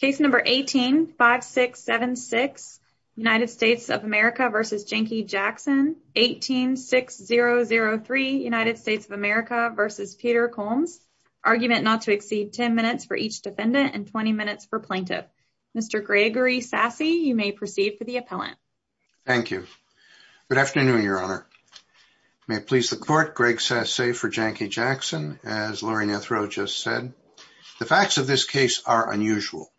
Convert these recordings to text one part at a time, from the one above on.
Case number 18-5676 United States of America v. Jankie Jackson. 18-6003 United States of America v. Peter Combs. Argument not to exceed 10 minutes for each defendant and 20 minutes for plaintiff. Mr. Gregory Sasse, you may proceed for the appellant. Thank you. Good afternoon, your honor. May it please the court, Greg Sasse for Jankie Jackson, as Laurie Nethro just said. The facts of this case are unusual.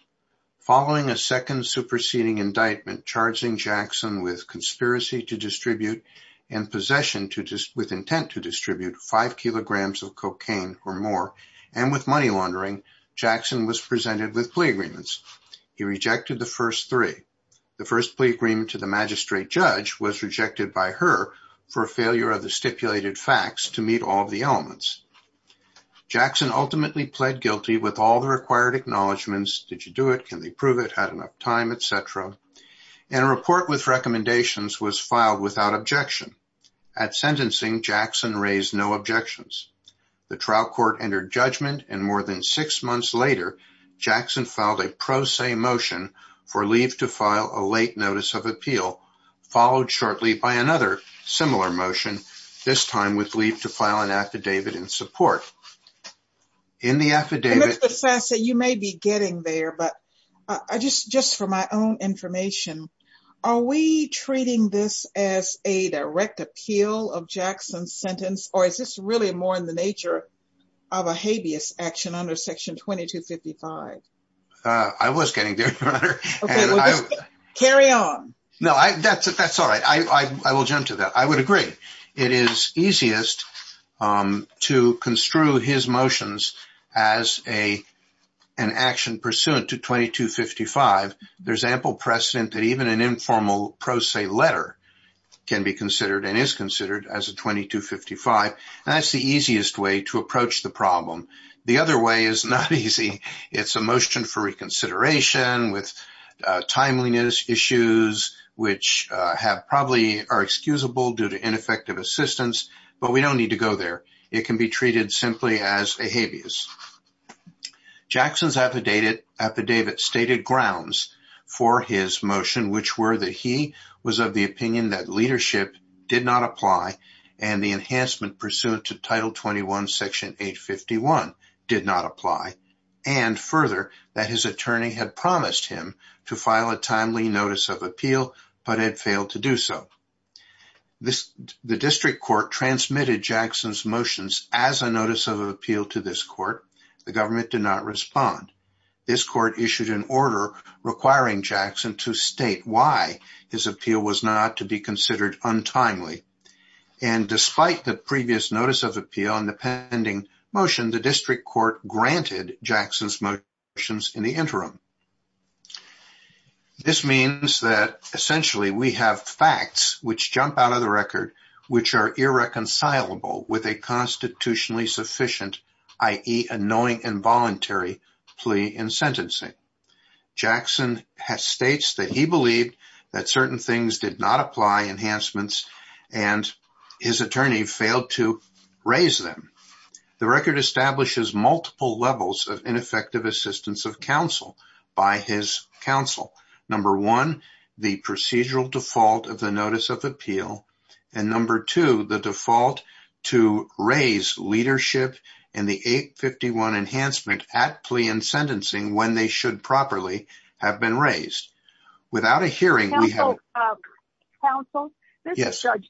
Following a second superseding indictment, charging Jackson with conspiracy to distribute and possession with intent to distribute five kilograms of cocaine or more and with money laundering, Jackson was presented with plea agreements. He rejected the first three. The first plea agreement to the magistrate judge was rejected by her for failure of the stipulated facts to meet all of the elements. Jackson ultimately pled guilty with all the required acknowledgments. Did you do it? Can they prove it? Had enough time, etc. And a report with recommendations was filed without objection. At sentencing, Jackson raised no objections. The trial court entered judgment and more than six months later, Jackson filed a pro se motion for leave to file a late notice of appeal, followed shortly by another similar motion, this time with leave to file an affidavit in support. In the affidavit, you may be getting there, but I just just for my own information, are we treating this as a direct appeal of Jackson's sentence? Or is this really more in the nature of a habeas action under section 2255? I was getting there. Carry on. No, I that's it. That's all right. I will jump to that. I would agree. It is easiest to construe his motions as an action pursuant to 2255. There's ample precedent that even an informal pro se letter can be considered and is considered as a 2255. That's the easiest way to approach the problem. The other way is not easy. It's a motion for reconsideration with timeliness issues, which have probably are excusable due to ineffective assistance, but we don't need to go there. It can be treated simply as a habeas. Jackson's affidavit stated grounds for his motion, which were that he was of the opinion that leadership did not apply and the enhancement pursuant to title 21 section 851 did not apply, and further, that his attorney had promised him to file a timely notice of appeal, but had failed to do so. The district court transmitted Jackson's motions as a notice of appeal to this court. The government did not respond. This court issued an order requiring Jackson to state why his appeal was not to be considered untimely. And despite the Jackson's motions in the interim. This means that essentially we have facts which jump out of the record, which are irreconcilable with a constitutionally sufficient, i.e. a knowing and voluntary plea in sentencing. Jackson has states that he believed that certain things did not apply enhancements, and his attorney failed to raise them. The record establishes multiple levels of ineffective assistance of counsel by his counsel. Number one, the procedural default of the notice of appeal, and number two, the default to raise leadership and the 851 enhancement at plea and judge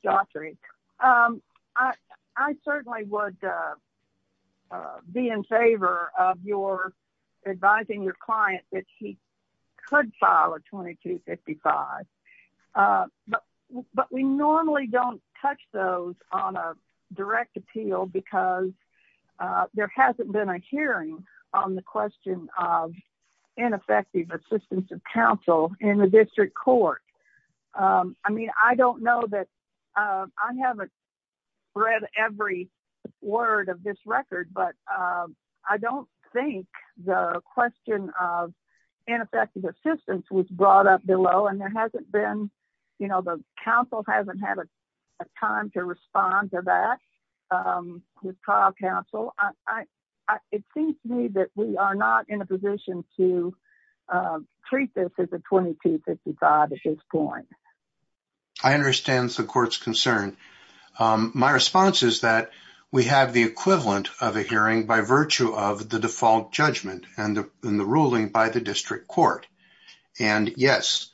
doctoring. I certainly would be in favor of your advising your client that he could file a 2255. But we normally don't touch those on a direct appeal because there hasn't been a hearing on the question of ineffective assistance of counsel in the district court. I mean, I don't know that I haven't read every word of this record, but I don't think the question of ineffective assistance was brought up below and there hasn't been, you know, the council hasn't had a time to respond to that. With trial counsel, I, it seems to me that we are not in a position to treat this as a 2255 at this point. I understand the court's concern. My response is that we have the equivalent of a hearing by virtue of the default judgment and the ruling by the district court. And yes,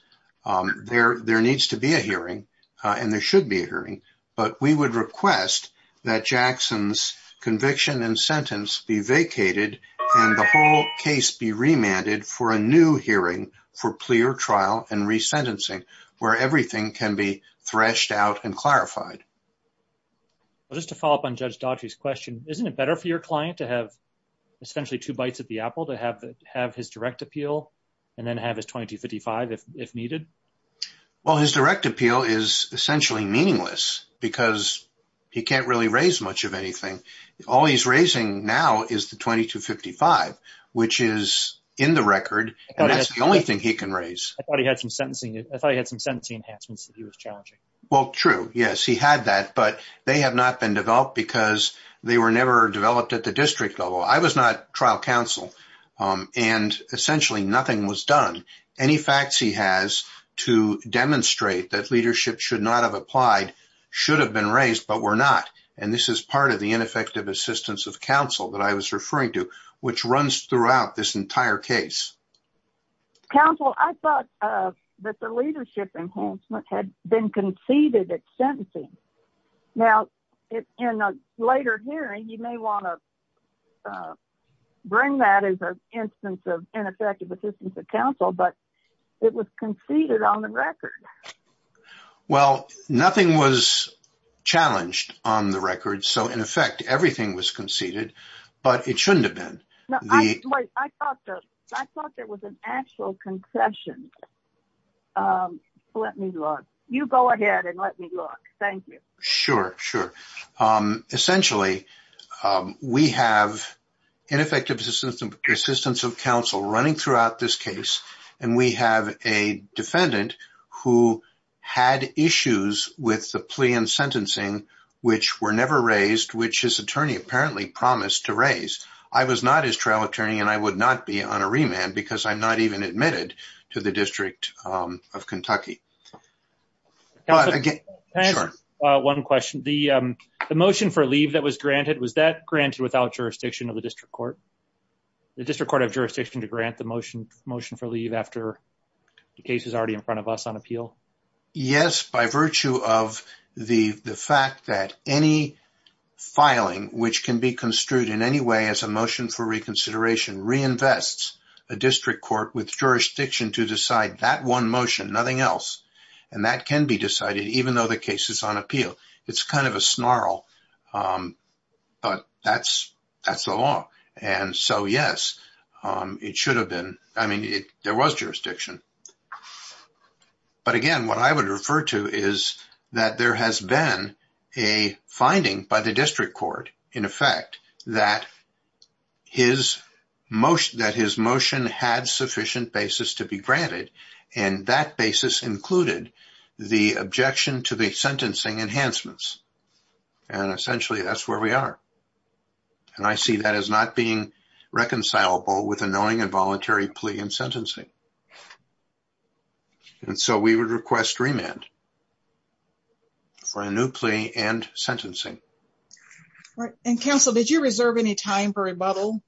there needs to be a hearing, and there should be a hearing, but we would request that Jackson's conviction and sentence be vacated and the whole case be remanded for a new hearing for clear trial and resentencing where everything can be threshed out and clarified. Well, just to follow up on Judge Daughtry's question, isn't it better for your client to have essentially two bites at the apple to have his direct appeal and then have his 2255 if needed? Well, his direct appeal is essentially meaningless because he can't really raise much of anything. All he's raising now is the 2255, which is in the record, and that's the only thing he can raise. I thought he had some sentencing, I thought he had some sentencing enhancements that he was challenging. Well, true, yes, he had that, but they have not been developed because they were never developed at the district level. I was not trial counsel, and essentially nothing was done. Any facts he has to demonstrate that leadership should not have applied should have been raised, but were not. And this is part of the ineffective assistance of counsel that I was referring to, which runs throughout this entire case. Counsel, I thought that the leadership enhancement had been conceded at sentencing. Now, in a later hearing, you may want to bring that as an instance of ineffective assistance of counsel, but it was conceded on the record. Well, nothing was challenged on the record, so in effect, everything was conceded, but it shouldn't have been. Wait, I thought there was an actual concession. Let me look. You go ahead and let me look. Thank you. Sure, sure. Essentially, we have ineffective assistance of counsel running throughout this case, and we have a defendant who had issues with the plea and sentencing, which were never raised, which his attorney apparently promised to raise. I was not his trial attorney, and I would not be on a remand because I'm not even admitted to the District of Kentucky. Counsel, can I ask one question? The motion for the District Court of Jurisdiction to grant the motion for leave after the case is already in front of us on appeal? Yes, by virtue of the fact that any filing which can be construed in any way as a motion for reconsideration reinvests a district court with jurisdiction to decide that one motion, nothing else, and that can be decided even though the case is on appeal. It's kind of a that's the law, and so yes, it should have been. I mean, there was jurisdiction, but again, what I would refer to is that there has been a finding by the district court, in effect, that his motion had sufficient basis to be granted, and that basis included the objection to the sentencing enhancements, and essentially that's where we are, and I see that as not being reconcilable with a knowing and voluntary plea and sentencing, and so we would request remand for a new plea and sentencing. Right, and counsel, did you reserve any time for rebuttal?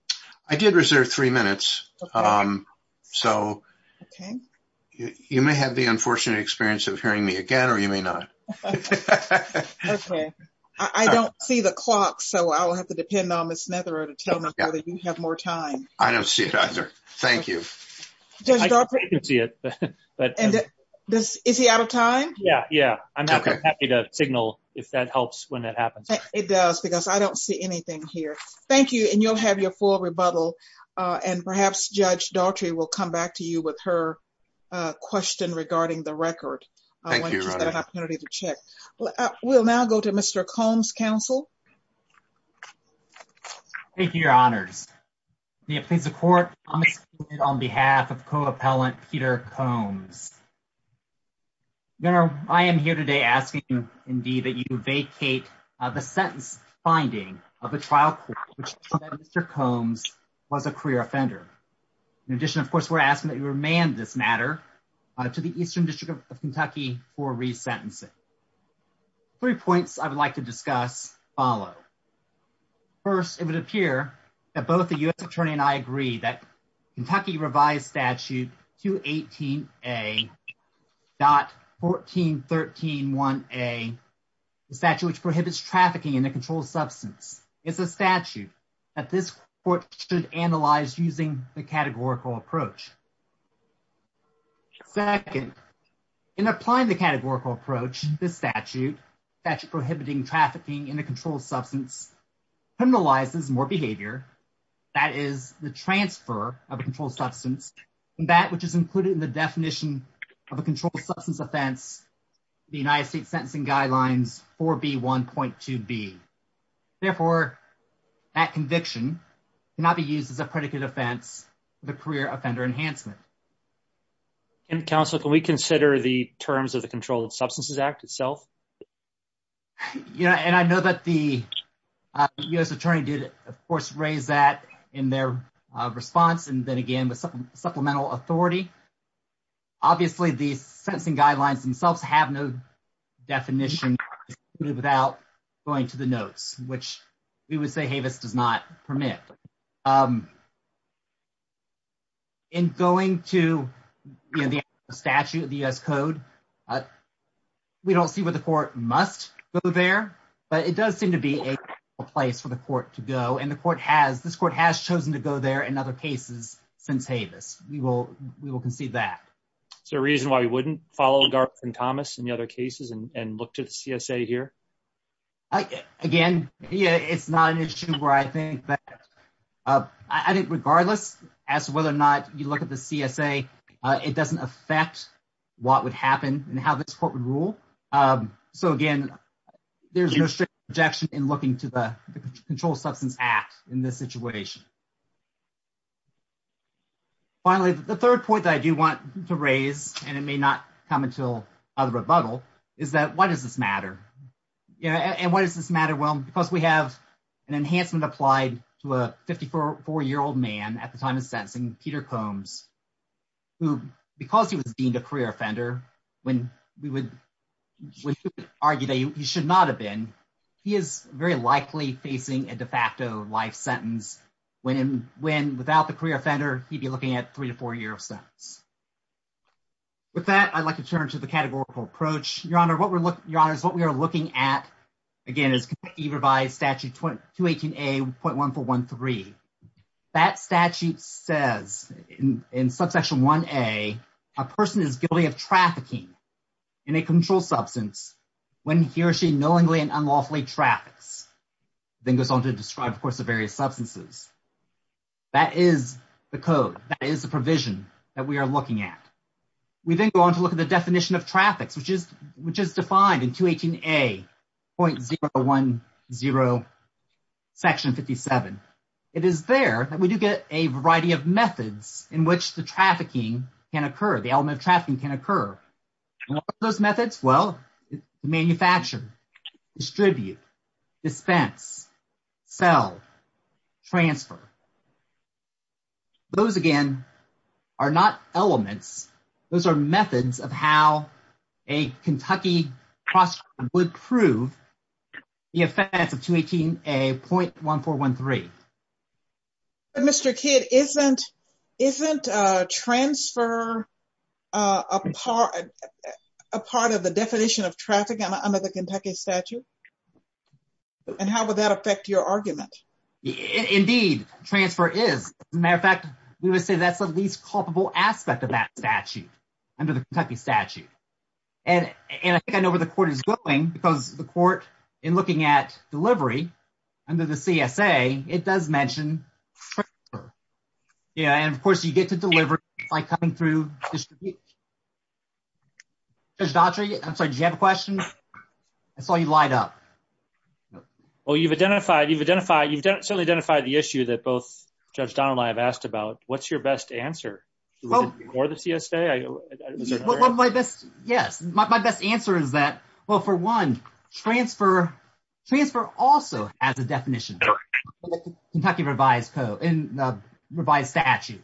I did reserve three minutes, so you may have the unfortunate experience of hearing me again, or you may not. Okay, I don't see the clock, so I'll have to depend on Ms. Netherer to tell me whether you have more time. I don't see it either. Thank you. Judge Daughtry, is he out of time? Yeah, yeah, I'm happy to signal if that helps when that happens. It does, because I don't see anything here. Thank you, and you'll have your full rebuttal, and perhaps Judge Daughtry will come back to you with her question regarding the record. Thank you. We'll now go to Mr. Combs, counsel. Thank you, your honors. May it please the court, I'm excluded on behalf of co-appellant Peter Combs. Your honor, I am here today asking you, indeed, that you vacate the sentence finding of a trial which Mr. Combs was a career offender. In addition, of course, we're asking that you remand this matter to the Eastern District of Kentucky for resentencing. Three points I would like to discuss follow. First, it would appear that both the U.S. attorney and I agree that Kentucky revised statute 218A.14131A, the statute which prohibits trafficking in a controlled substance, is a statute that this court should analyze using the categorical approach. Second, in applying the categorical approach, this statute, statute prohibiting trafficking in a controlled substance, criminalizes more behavior, that is the transfer of a controlled substance, and that which is included in the definition of a controlled substance offense, the United States Sentencing Guidelines 4B1.2b. Therefore, that conviction cannot be used as a predicate offense for the career offender enhancement. Counsel, can we consider the terms of the Controlled Substances Act itself? Yeah, and I know that the U.S. attorney did, of course, raise that in their response, and then again with supplemental authority. Obviously, the sentencing guidelines themselves have no definition without going to the notes, which we would say HAVIS does not permit. In going to, you know, the statute, the U.S. code, we don't see where the court must go there, but it does seem to be a place for the court to go, and the court has, this court has chosen to go there in other cases since HAVIS. We will concede that. Is there a reason why we wouldn't follow Garth and Thomas in the other cases and look to the CSA here? Again, it's not an issue where I think that, I think regardless as to whether or not you look at the CSA, it doesn't affect what would happen and how this court would rule. So again, there's no strict objection in looking to the Controlled Substances Act in this situation. Finally, the third point that I do want to raise, and it may not come until a rebuttal, is that why does this matter? Yeah, and why does this matter? Well, because we have an enhancement applied to a 54-year-old man at the time of sentencing, Peter Combs, who because he was deemed a career offender, when we would argue that he should not have been, he is very likely facing a de facto life sentence when without the career offender, he'd be looking at three to four year sentence. With that, I'd like to turn to the categorical approach. Your Honor, what we're looking, Your Honor, is what we are looking at, again, is either by Statute 218A.1413. That statute says in Subsection 1A, a person is guilty of trafficking in a controlled substance when he or she knowingly and unlawfully traffics. Then goes on to describe, of course, the various substances. That is the code. That is the provision that we are looking at. We then go on to look at the definition of traffics, which is defined in 218A.010, Section 57. It is there that we do get a variety of methods in which the trafficking can occur, the element of trafficking can occur. And what are those methods? Well, manufacture, distribute, dispense, sell, transfer. Those, again, are not elements. Those are methods of how a Kentucky would prove the offense of 218A.1413. But, Mr. Kidd, isn't transfer a part of the definition of traffic under the Kentucky statute? And how would that affect your argument? Indeed, transfer is. As a matter of fact, we would say that's the least culpable aspect of that statute, under the Kentucky statute. And I think I know where the court is going, because the court, in looking at delivery under the CSA, it does mention transfer. Yeah, and, of course, you get to deliver by coming through. Judge Daughtry, I'm sorry, did you have a question? I saw you light up. Well, you've identified, you've identified, you've certainly identified the issue that both Judge Donnelly and I have asked about. What's your best answer? Or the CSA? Well, my best, yes, my best answer is that, well, for one, transfer, transfer also has a definition, the Kentucky revised code, revised statute.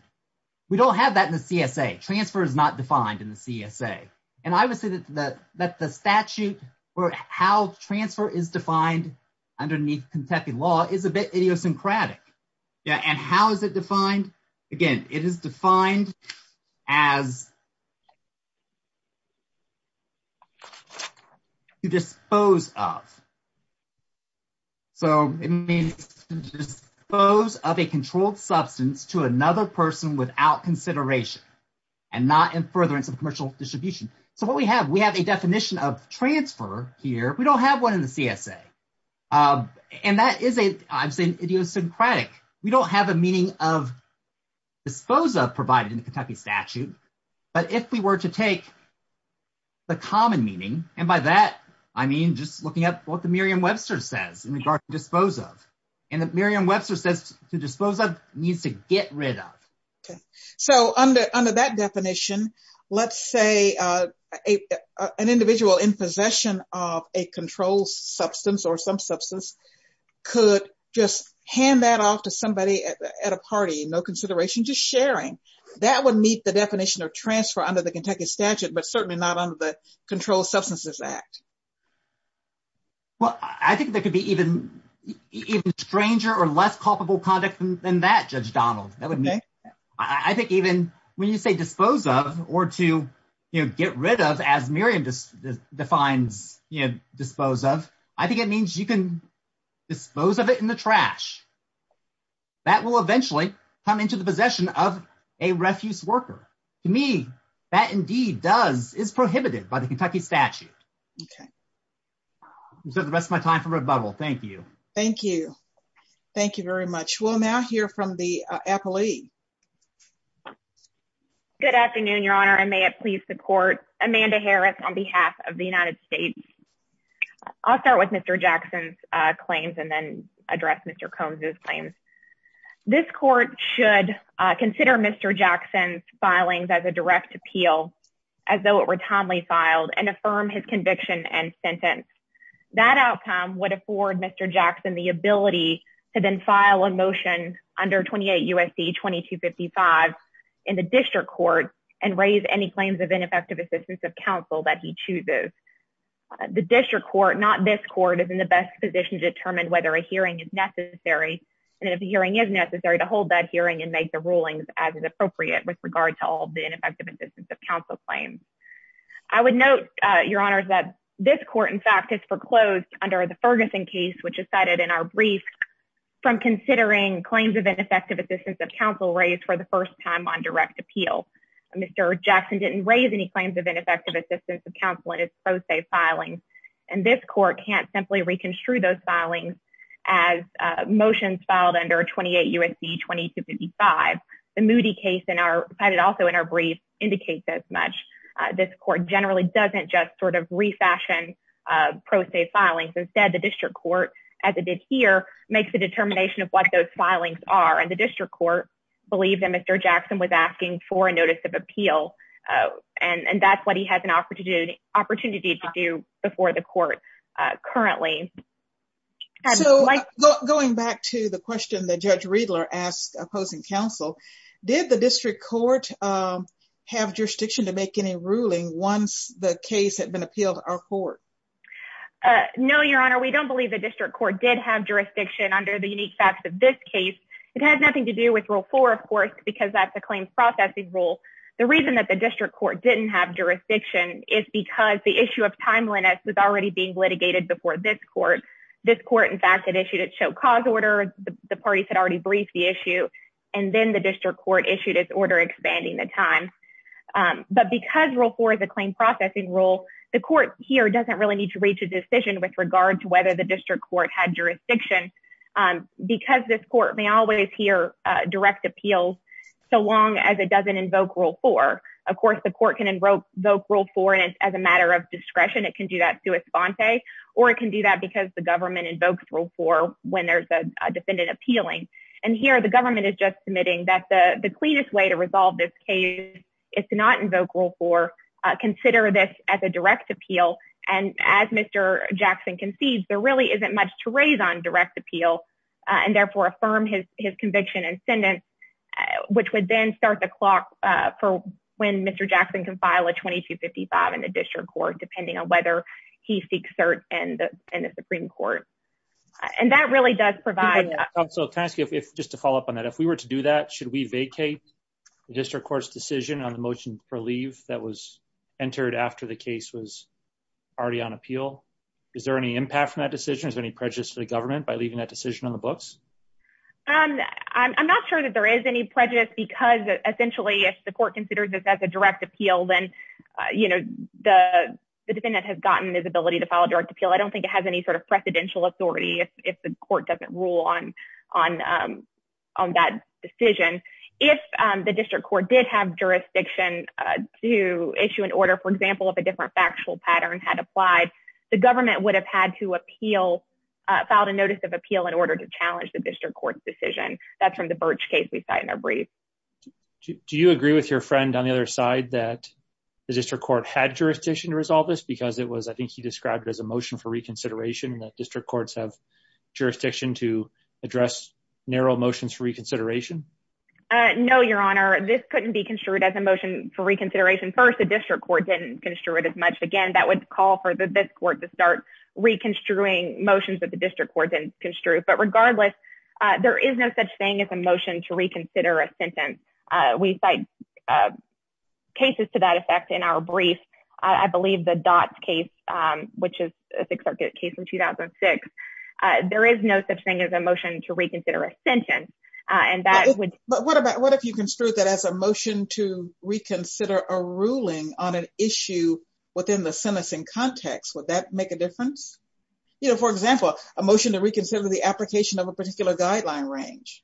We don't have that in the CSA. Transfer is not defined in the CSA. And I would say that the statute, or how transfer is defined underneath Kentucky law, is a bit idiosyncratic. Yeah, and how is it defined? Again, it is defined as to dispose of. So, it means to dispose of a controlled substance to another person without consideration, and not in furtherance of commercial distribution. So, what we have, we have a definition of transfer here. We don't have one in the CSA. And that is, I'm saying, idiosyncratic. We don't have a meaning of dispose of provided in the Kentucky statute. But if we were to take the common meaning, and by that, I mean just looking at what the Merriam-Webster says in regard to dispose of. And the Merriam-Webster says to dispose of means to get rid of. Okay. So, under that definition, let's say an individual in possession of a controlled substance or some substance could just hand that off to somebody at a party, no consideration, just sharing. That would meet the definition of transfer under the Kentucky statute, but certainly not under the Controlled Substances Act. Well, I think there could be even stranger or less culpable conduct than that, Judge Donald. I think even when you say dispose of, or to, you know, get rid of, as Merriam defines, you know, dispose of, I think it means you can dispose of it in the trash. That will eventually come into the possession of a refuse worker. To me, that indeed does, is prohibited by the Kentucky statute. Okay. So, the rest of my time for rebuttal. Thank you. Thank you. Thank you very much. We'll now hear from the appellee. Good afternoon, Your Honor, and may it please the court. Amanda Harris on behalf of the United States. I'll start with Mr. Jackson's claims and then address Mr. Combs' claims. This court should consider Mr. Jackson's filings as a direct appeal, as though it were timely filed, and affirm his conviction and sentence. That outcome would afford Mr. Jackson the ability to then file a motion under 28 U.S.C. 2255 in the district court and raise any claims of ineffective assistance of counsel that he chooses. The district court, not this court, is in the best position to determine whether a hearing is necessary, and if a hearing is necessary, to hold that hearing and make the rulings as is appropriate with regard to all ineffective assistance of counsel claims. I would note, Your Honor, that this court, in fact, is foreclosed under the Ferguson case, which is cited in our brief, from considering claims of ineffective assistance of counsel raised for the first time on direct appeal. Mr. Jackson didn't raise any claims of ineffective assistance of counsel in his pro se filings, and this court can't simply reconstruct those filings as motions filed under 28 U.S.C. 2255. The Moody case in our, also in our brief, indicates as much. This court generally doesn't just sort of refashion pro se filings. Instead, the district court, as it did here, makes the determination of what those filings are, and the district court believed that Mr. Jackson was asking for a notice of appeal, and that's what he has an opportunity to do before the court currently. So, going back to the question that Judge Riedler asked opposing counsel, did the district court have jurisdiction to make any ruling once the case had been appealed to our court? No, Your Honor, we don't believe the district court did have jurisdiction under the unique facts of this case. It has nothing to do with Rule 4, of course, because that's a claims processing rule. The reason that the district court didn't have jurisdiction is because the this court, in fact, had issued its show cause order. The parties had already briefed the issue, and then the district court issued its order expanding the time, but because Rule 4 is a claim processing rule, the court here doesn't really need to reach a decision with regard to whether the district court had jurisdiction because this court may always hear direct appeals so long as it doesn't invoke Rule 4. Of course, the court can invoke Rule 4, and as a matter of government invokes Rule 4 when there's a defendant appealing, and here the government is just submitting that the cleanest way to resolve this case is to not invoke Rule 4, consider this as a direct appeal, and as Mr. Jackson concedes, there really isn't much to raise on direct appeal, and therefore affirm his conviction and sentence, which would then start the clock for when Mr. Jackson can file a 2255 in the district court, depending on whether he seeks cert in the Supreme Court, and that really does provide... So can I ask you, just to follow up on that, if we were to do that, should we vacate the district court's decision on the motion for leave that was entered after the case was already on appeal? Is there any impact from that decision? Is there any prejudice to the government by leaving that decision on the books? I'm not sure that there is any prejudice because essentially if the court considers this as a direct appeal, then the defendant has gotten his ability to file a direct appeal. I don't think it has any sort of precedential authority if the court doesn't rule on that decision. If the district court did have jurisdiction to issue an order, for example, if a different factual pattern had applied, the government would have had to file a notice of appeal in order to challenge the district court's decision. That's from the Birch case we cite in our brief. Do you agree with your friend on the other side that the district court had jurisdiction to and that district courts have jurisdiction to address narrow motions for reconsideration? No, Your Honor. This couldn't be construed as a motion for reconsideration. First, the district court didn't construe it as much. Again, that would call for this court to start reconstruing motions that the district court didn't construe. But regardless, there is no such thing as a motion to reconsider a sentence. We cite cases to that effect in our case in 2006. There is no such thing as a motion to reconsider a sentence. What if you construed that as a motion to reconsider a ruling on an issue within the sentencing context? Would that make a difference? For example, a motion to reconsider the application of a particular guideline range.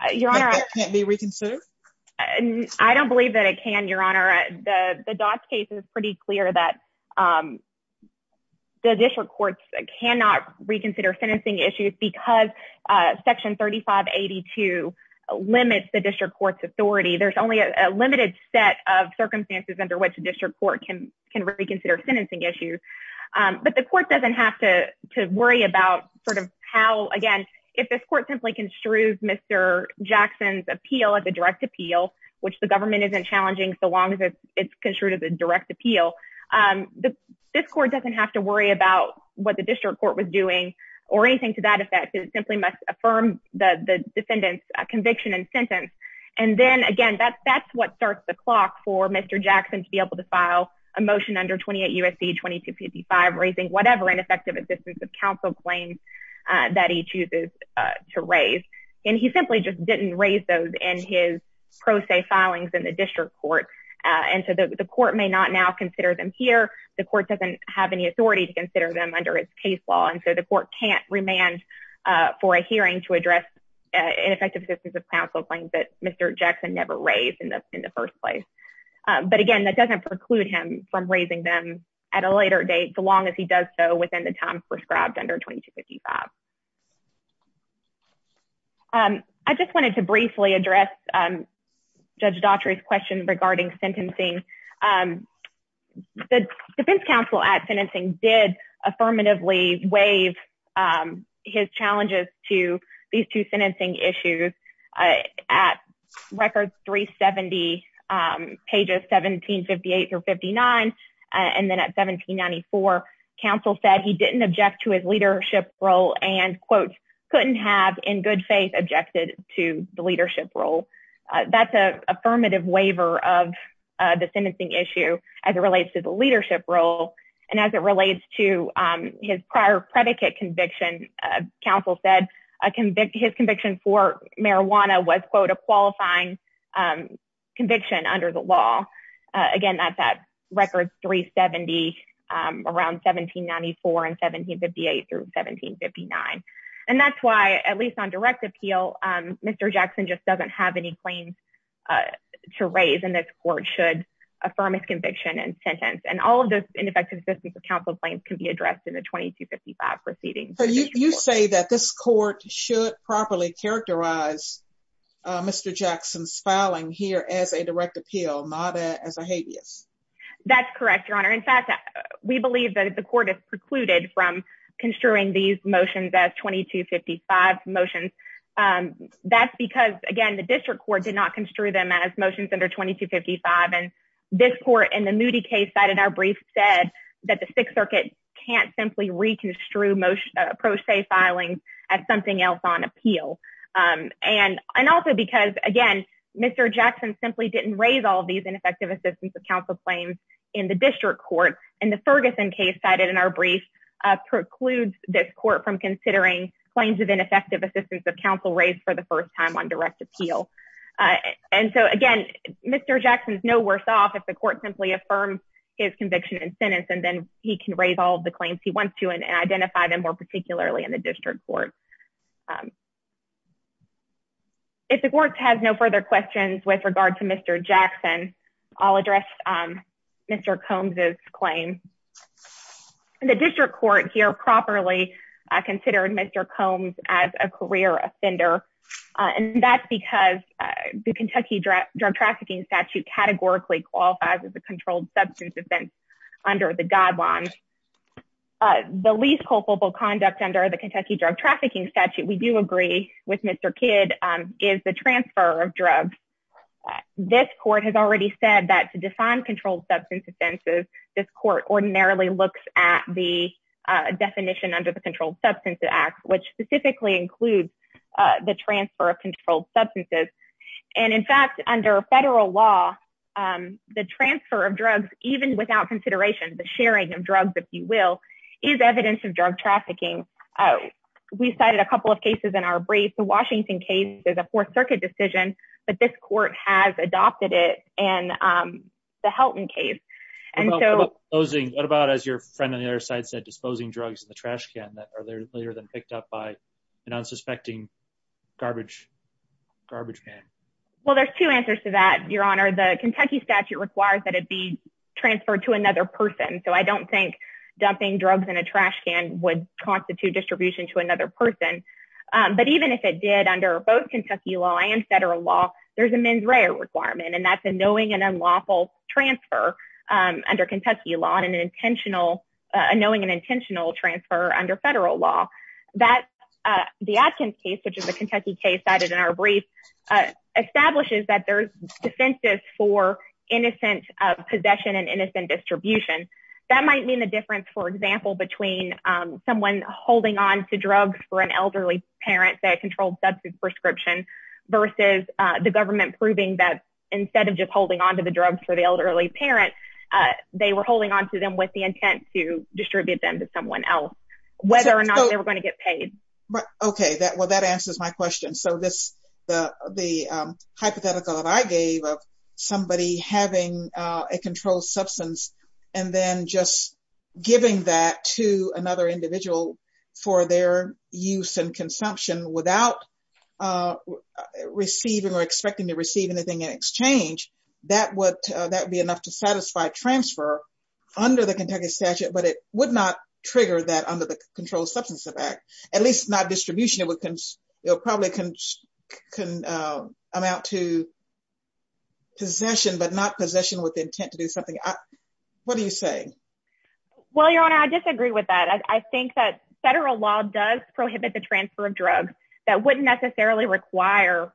That can't be reconsidered? I don't believe that it can, Your Honor. The Dodge case is pretty clear that the district courts cannot reconsider sentencing issues because Section 3582 limits the district court's authority. There's only a limited set of circumstances under which a district court can reconsider sentencing issues. But the court doesn't have to worry about sort of how, again, if this court simply construed Mr. Jackson's appeal as a direct appeal, which the government isn't challenging so long as it's construed as a direct appeal, this court doesn't have to worry about what the district court was doing or anything to that effect. It simply must affirm the defendant's conviction and sentence. And then, again, that's what starts the clock for Mr. Jackson to be able to file a motion under 28 U.S.C. 2255 raising whatever ineffective assistance of counsel claims that he chooses to raise. And he simply just didn't raise those in his pro se filings in the district court. And so the court may not now consider them here. The court doesn't have any authority to consider them under its case law. And so the court can't remand for a hearing to address ineffective assistance of counsel claims that Mr. Jackson never raised in the first place. But again, that doesn't preclude him from raising them at a later date so long as he does so within the time prescribed under 2255. I just wanted to briefly address Judge Daughtry's question regarding sentencing. The defense counsel at sentencing did affirmatively waive his challenges to these two sentencing issues at record 370 pages 1758 through 59. And then at 1794, counsel said he didn't object to his leadership role and, quote, couldn't have in good faith objected to the leadership role. That's an affirmative waiver of the sentencing issue as it relates to the leadership role. And as it relates to his prior predicate conviction, counsel said his conviction for marijuana was, quote, a qualifying conviction under the law. Again, that's at record 370 around 1794 and 1758 through 1759. And that's why at least on direct appeal, Mr. Jackson just doesn't have any claims to raise in this court should affirm his conviction and sentence and all of those ineffective assistance of counsel claims can be addressed in the 2255 proceedings. So you say that this court should properly characterize Mr. Jackson's filing here as a we believe that the court is precluded from construing these motions as 2255 motions. That's because, again, the district court did not construe them as motions under 2255. And this court in the Moody case cited our brief said that the Sixth Circuit can't simply reconstrue pro se filings as something else on appeal. And also because, again, Mr. Jackson simply didn't raise all of these ineffective assistance of counsel claims in the district court. And the Ferguson case cited in our brief precludes this court from considering claims of ineffective assistance of counsel raised for the first time on direct appeal. And so, again, Mr. Jackson's no worse off if the court simply affirms his conviction and sentence and then he can raise all of the claims he wants to and identify them more particularly in the district court. If the court has no further questions with regard to Mr. Jackson, I'll address Mr. Combs's claim. The district court here properly considered Mr. Combs as a career offender. And that's because the Kentucky Drug Trafficking Statute categorically qualifies as a controlled substance offense under the guidelines. The least culpable conduct under the Kentucky Drug Trafficking Statute, we do agree with Mr. Kidd, is the transfer of drugs. This court has already said that to define controlled substance offenses, this court ordinarily looks at the definition under the Controlled Substances Act, which specifically includes the transfer of controlled substances. And in fact, under federal law, the transfer of drugs, even without consideration, the sharing of drugs, if you will, is evidence of drug trafficking. We cited a couple of cases in our brief. The Washington case is a Fourth Circuit decision, but this court has adopted it and the Helton case. And so... What about as your friend on the other side said, disposing drugs in the trash can that are later than picked up by an unsuspecting garbage man? Well, there's two answers to that, Your Honor. The Kentucky Statute requires that it be transferred to another person. So I don't think dumping drugs in a trash can would constitute distribution to another person. But even if it did, under both Kentucky law and federal law, there's a mens rea requirement, and that's a knowing and unlawful transfer under Kentucky law and an intentional... A knowing and intentional transfer under federal law. That... The Atkins case, which is a Kentucky case cited in our brief, establishes that there's defenses for innocent possession and innocent distribution. That might mean the difference, for example, between someone holding on to drugs for an elderly parent that controlled substance prescription versus the government proving that instead of just holding on to the drugs for the elderly parent, they were holding on to them with the intent to distribute them to someone else, whether or not they were going to get paid. Okay, that... Well, that answers my question. So this... The hypothetical that I gave of somebody having a controlled substance and then just giving that to another individual for their use and consumption without receiving or expecting to receive anything in exchange, that would... That would be enough to satisfy transfer under the Kentucky Statute, but it would not trigger that under the Controlled Substance Act, at least not distribution. It would... It would probably amount to possession, but not possession with intent to do something. What do you say? Well, Your Honor, I disagree with that. I think that federal law does prohibit the transfer of drugs that wouldn't necessarily require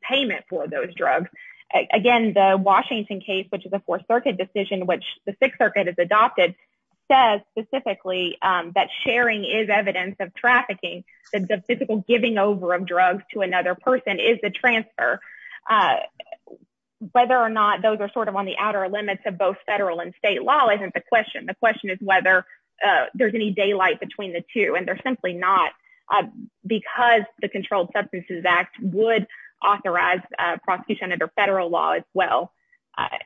payment for those drugs. Again, the Washington case, which is a Fourth Circuit decision, which the Sixth Circuit has adopted, says specifically that sharing is evidence of trafficking, that the physical giving over of drugs to another person is the transfer. Whether or not those are sort of on the outer limits of both federal and state law isn't the question. The question is whether there's any daylight between the two, and there's simply not, because the Controlled Substances Act would authorize prosecution under federal law as well.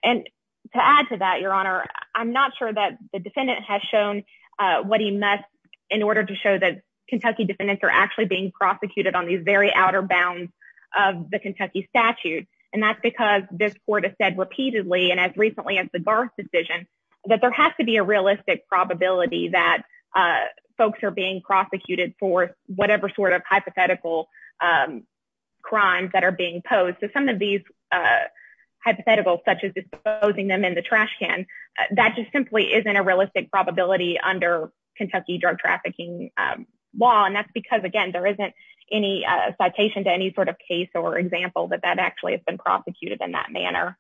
And to add to that, Your Honor, I'm not sure that the defendant has shown what he must in order to show that Kentucky defendants are actually being prosecuted on these very outer bounds of the Kentucky Statute. And that's because this court has said repeatedly, and as recently as the Garth decision, that there has to be a realistic probability that folks are being prosecuted for whatever sort of hypothetical crimes that are being posed. So some of these hypotheticals, such as disposing them in the trash can, that just simply isn't a realistic probability under Kentucky drug trafficking law. And that's because, again, there isn't any citation to any sort of case or example that that actually has been prosecuted in that manner.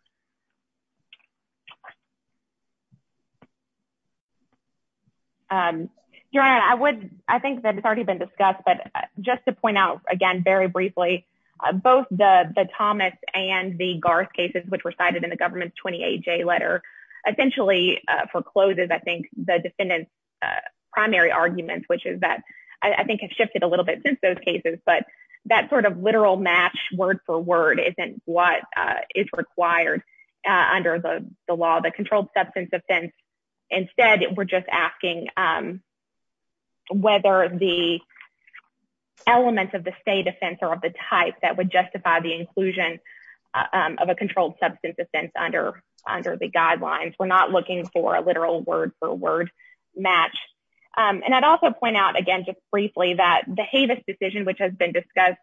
Your Honor, I think that it's already been discussed, but just to point out, again, very briefly, both the Thomas and the Garth cases, which were cited in the government's 28-J letter, essentially forecloses, I think, the defendant's primary arguments, which is that, I think, has shifted a little bit since those cases. But that sort of literal match, word for word, isn't what is required under the law. The controlled substance offense, instead, we're just asking whether the elements of the state offense or of the type that justify the inclusion of a controlled substance offense under the guidelines. We're not looking for a literal word for word match. And I'd also point out, again, just briefly, that the Havis decision, which has been discussed,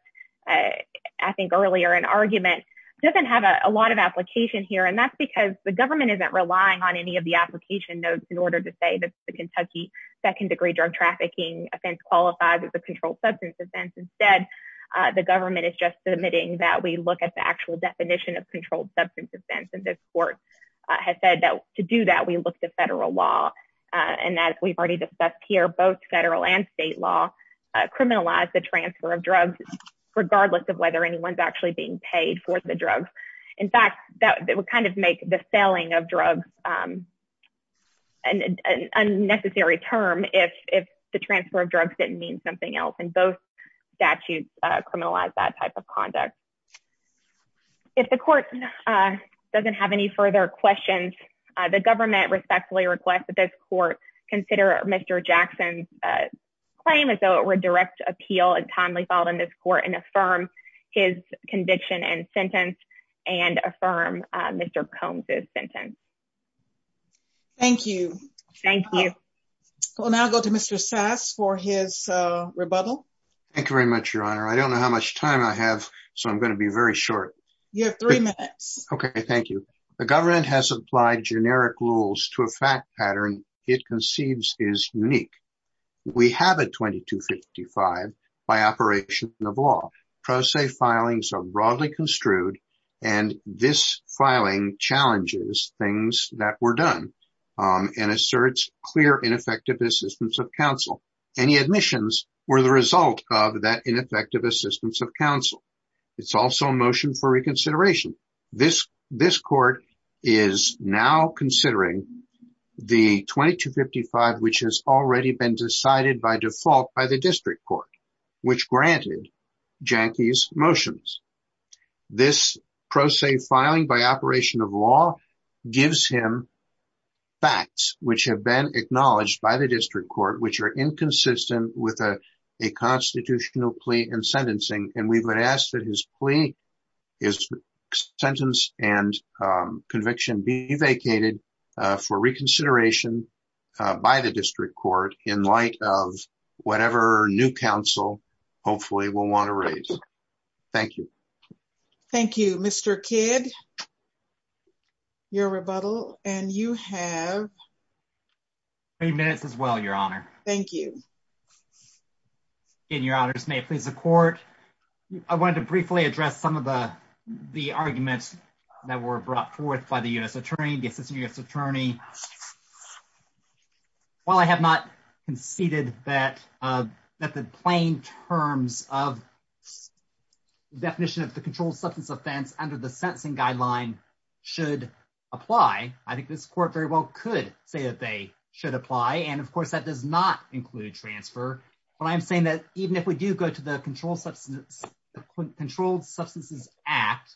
I think, earlier in argument, doesn't have a lot of application here. And that's because the government isn't relying on any of the application notes in order to say that the Kentucky second-degree drug trafficking offense qualifies as a controlled that we look at the actual definition of controlled substance offense. And this court has said that to do that, we look to federal law. And that we've already discussed here, both federal and state law criminalize the transfer of drugs, regardless of whether anyone's actually being paid for the drugs. In fact, that would kind of make the selling of drugs an unnecessary term if the transfer of drugs didn't mean something else. And both statutes criminalize that type of conduct. If the court doesn't have any further questions, the government respectfully request that this court consider Mr. Jackson's claim as though it were direct appeal and timely filed in this court and affirm his conviction and sentence and affirm Mr. Combs' sentence. Thank you. Thank you. We'll now go to Mr. Sass for his Thank you very much, Your Honor. I don't know how much time I have. So I'm going to be very short. You have three minutes. Okay, thank you. The government has applied generic rules to a fact pattern it conceives is unique. We have a 2255 by operation of law. Pro se filings are broadly construed. And this filing challenges things that were done and asserts clear ineffective assistance of counsel. Any admissions were the result of that ineffective assistance of counsel. It's also a motion for reconsideration. This court is now considering the 2255, which has already been decided by default by the district court, which granted Jackie's motions. This which are inconsistent with a constitutional plea and sentencing, and we've been asked that his plea is sentence and conviction be vacated for reconsideration by the district court in light of whatever new counsel hopefully will want to raise. Thank you. Thank you, Mr. Kidd. Your rebuttal and you have three minutes as well, Your Honor. Thank you. In your honor's may please support. I wanted to briefly address some of the the arguments that were brought forth by the US attorney, the assistant US attorney. While I have not conceded that that the plain terms of definition of the controlled substance offense under the sentencing guideline should apply, I think this court very well could say that they should apply. And of course, that does not include transfer. But I'm saying that even if we do go to the controlled substance, controlled substances act,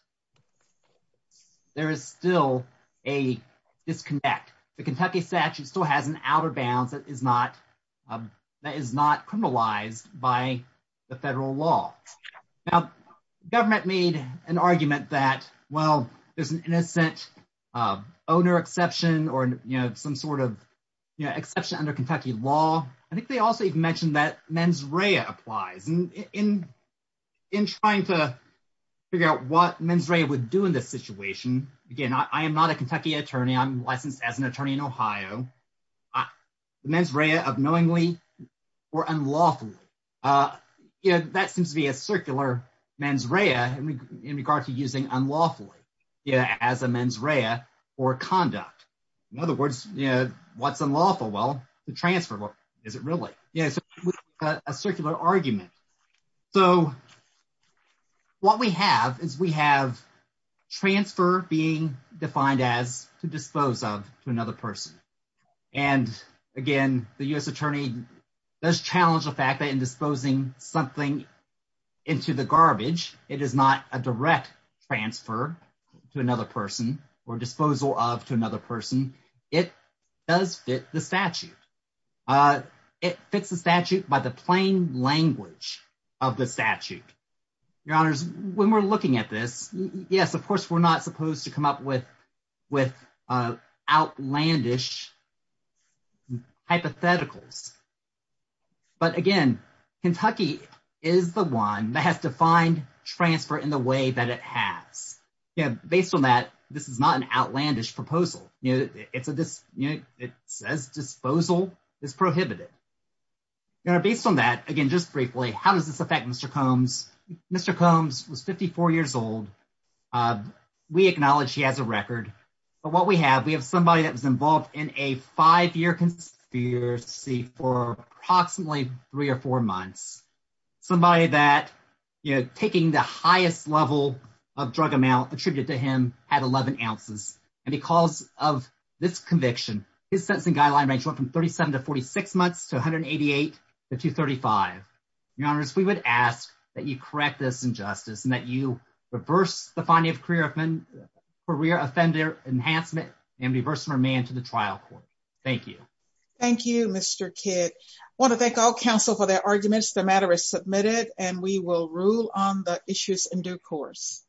there is still a disconnect. The Kentucky statute still has an outer bounds that is not that is not criminalized by the federal law. Now, government made an argument that, well, there's an innocent owner exception or, you know, some sort of exception under Kentucky law. I think they also even mentioned that mens rea applies. In trying to figure out what mens rea would do in this situation, again, I am not a Kentucky attorney. I'm licensed as an attorney in Ohio. The mens rea of knowingly or unlawfully, you know, that seems to be a circular mens rea in regard to using unlawfully, you know, as a mens rea or conduct. In other words, you know, what's unlawful? Well, the transfer, what is it really? Yeah, so a circular argument. So what we have is we have transfer being defined as to dispose of to another person. And again, the US attorney does challenge the fact that in disposing something into the garbage, it is not a direct transfer to another person or disposal of to another person. It does fit the statute. It fits the statute by the plain language of the statute. Your honors, when we're looking at this, yes, of course, we're not supposed to come up with outlandish hypotheticals. But again, Kentucky is the one that has defined transfer in the way that it has. Based on that, this is not an outlandish proposal. It says disposal is prohibited. Based on that, again, just briefly, how does this affect Mr. Combs? Mr. Combs was 54 years old, we acknowledge he has a record. But what we have, we have somebody that was involved in a five-year conspiracy for approximately three or four months. Somebody that, you know, taking the highest level of drug amount attributed to him had 11 ounces. And because of this conviction, his sentencing guideline range went from 37 to 46 months to 188 to 235. Your honors, we would ask that you correct this injustice and that you reverse the finding of career offender enhancement and reverse the remand to the trial court. Thank you. Thank you, Mr. Kidd. I want to thank all counsel for their arguments. The matter is submitted and we will rule on the issues in due course.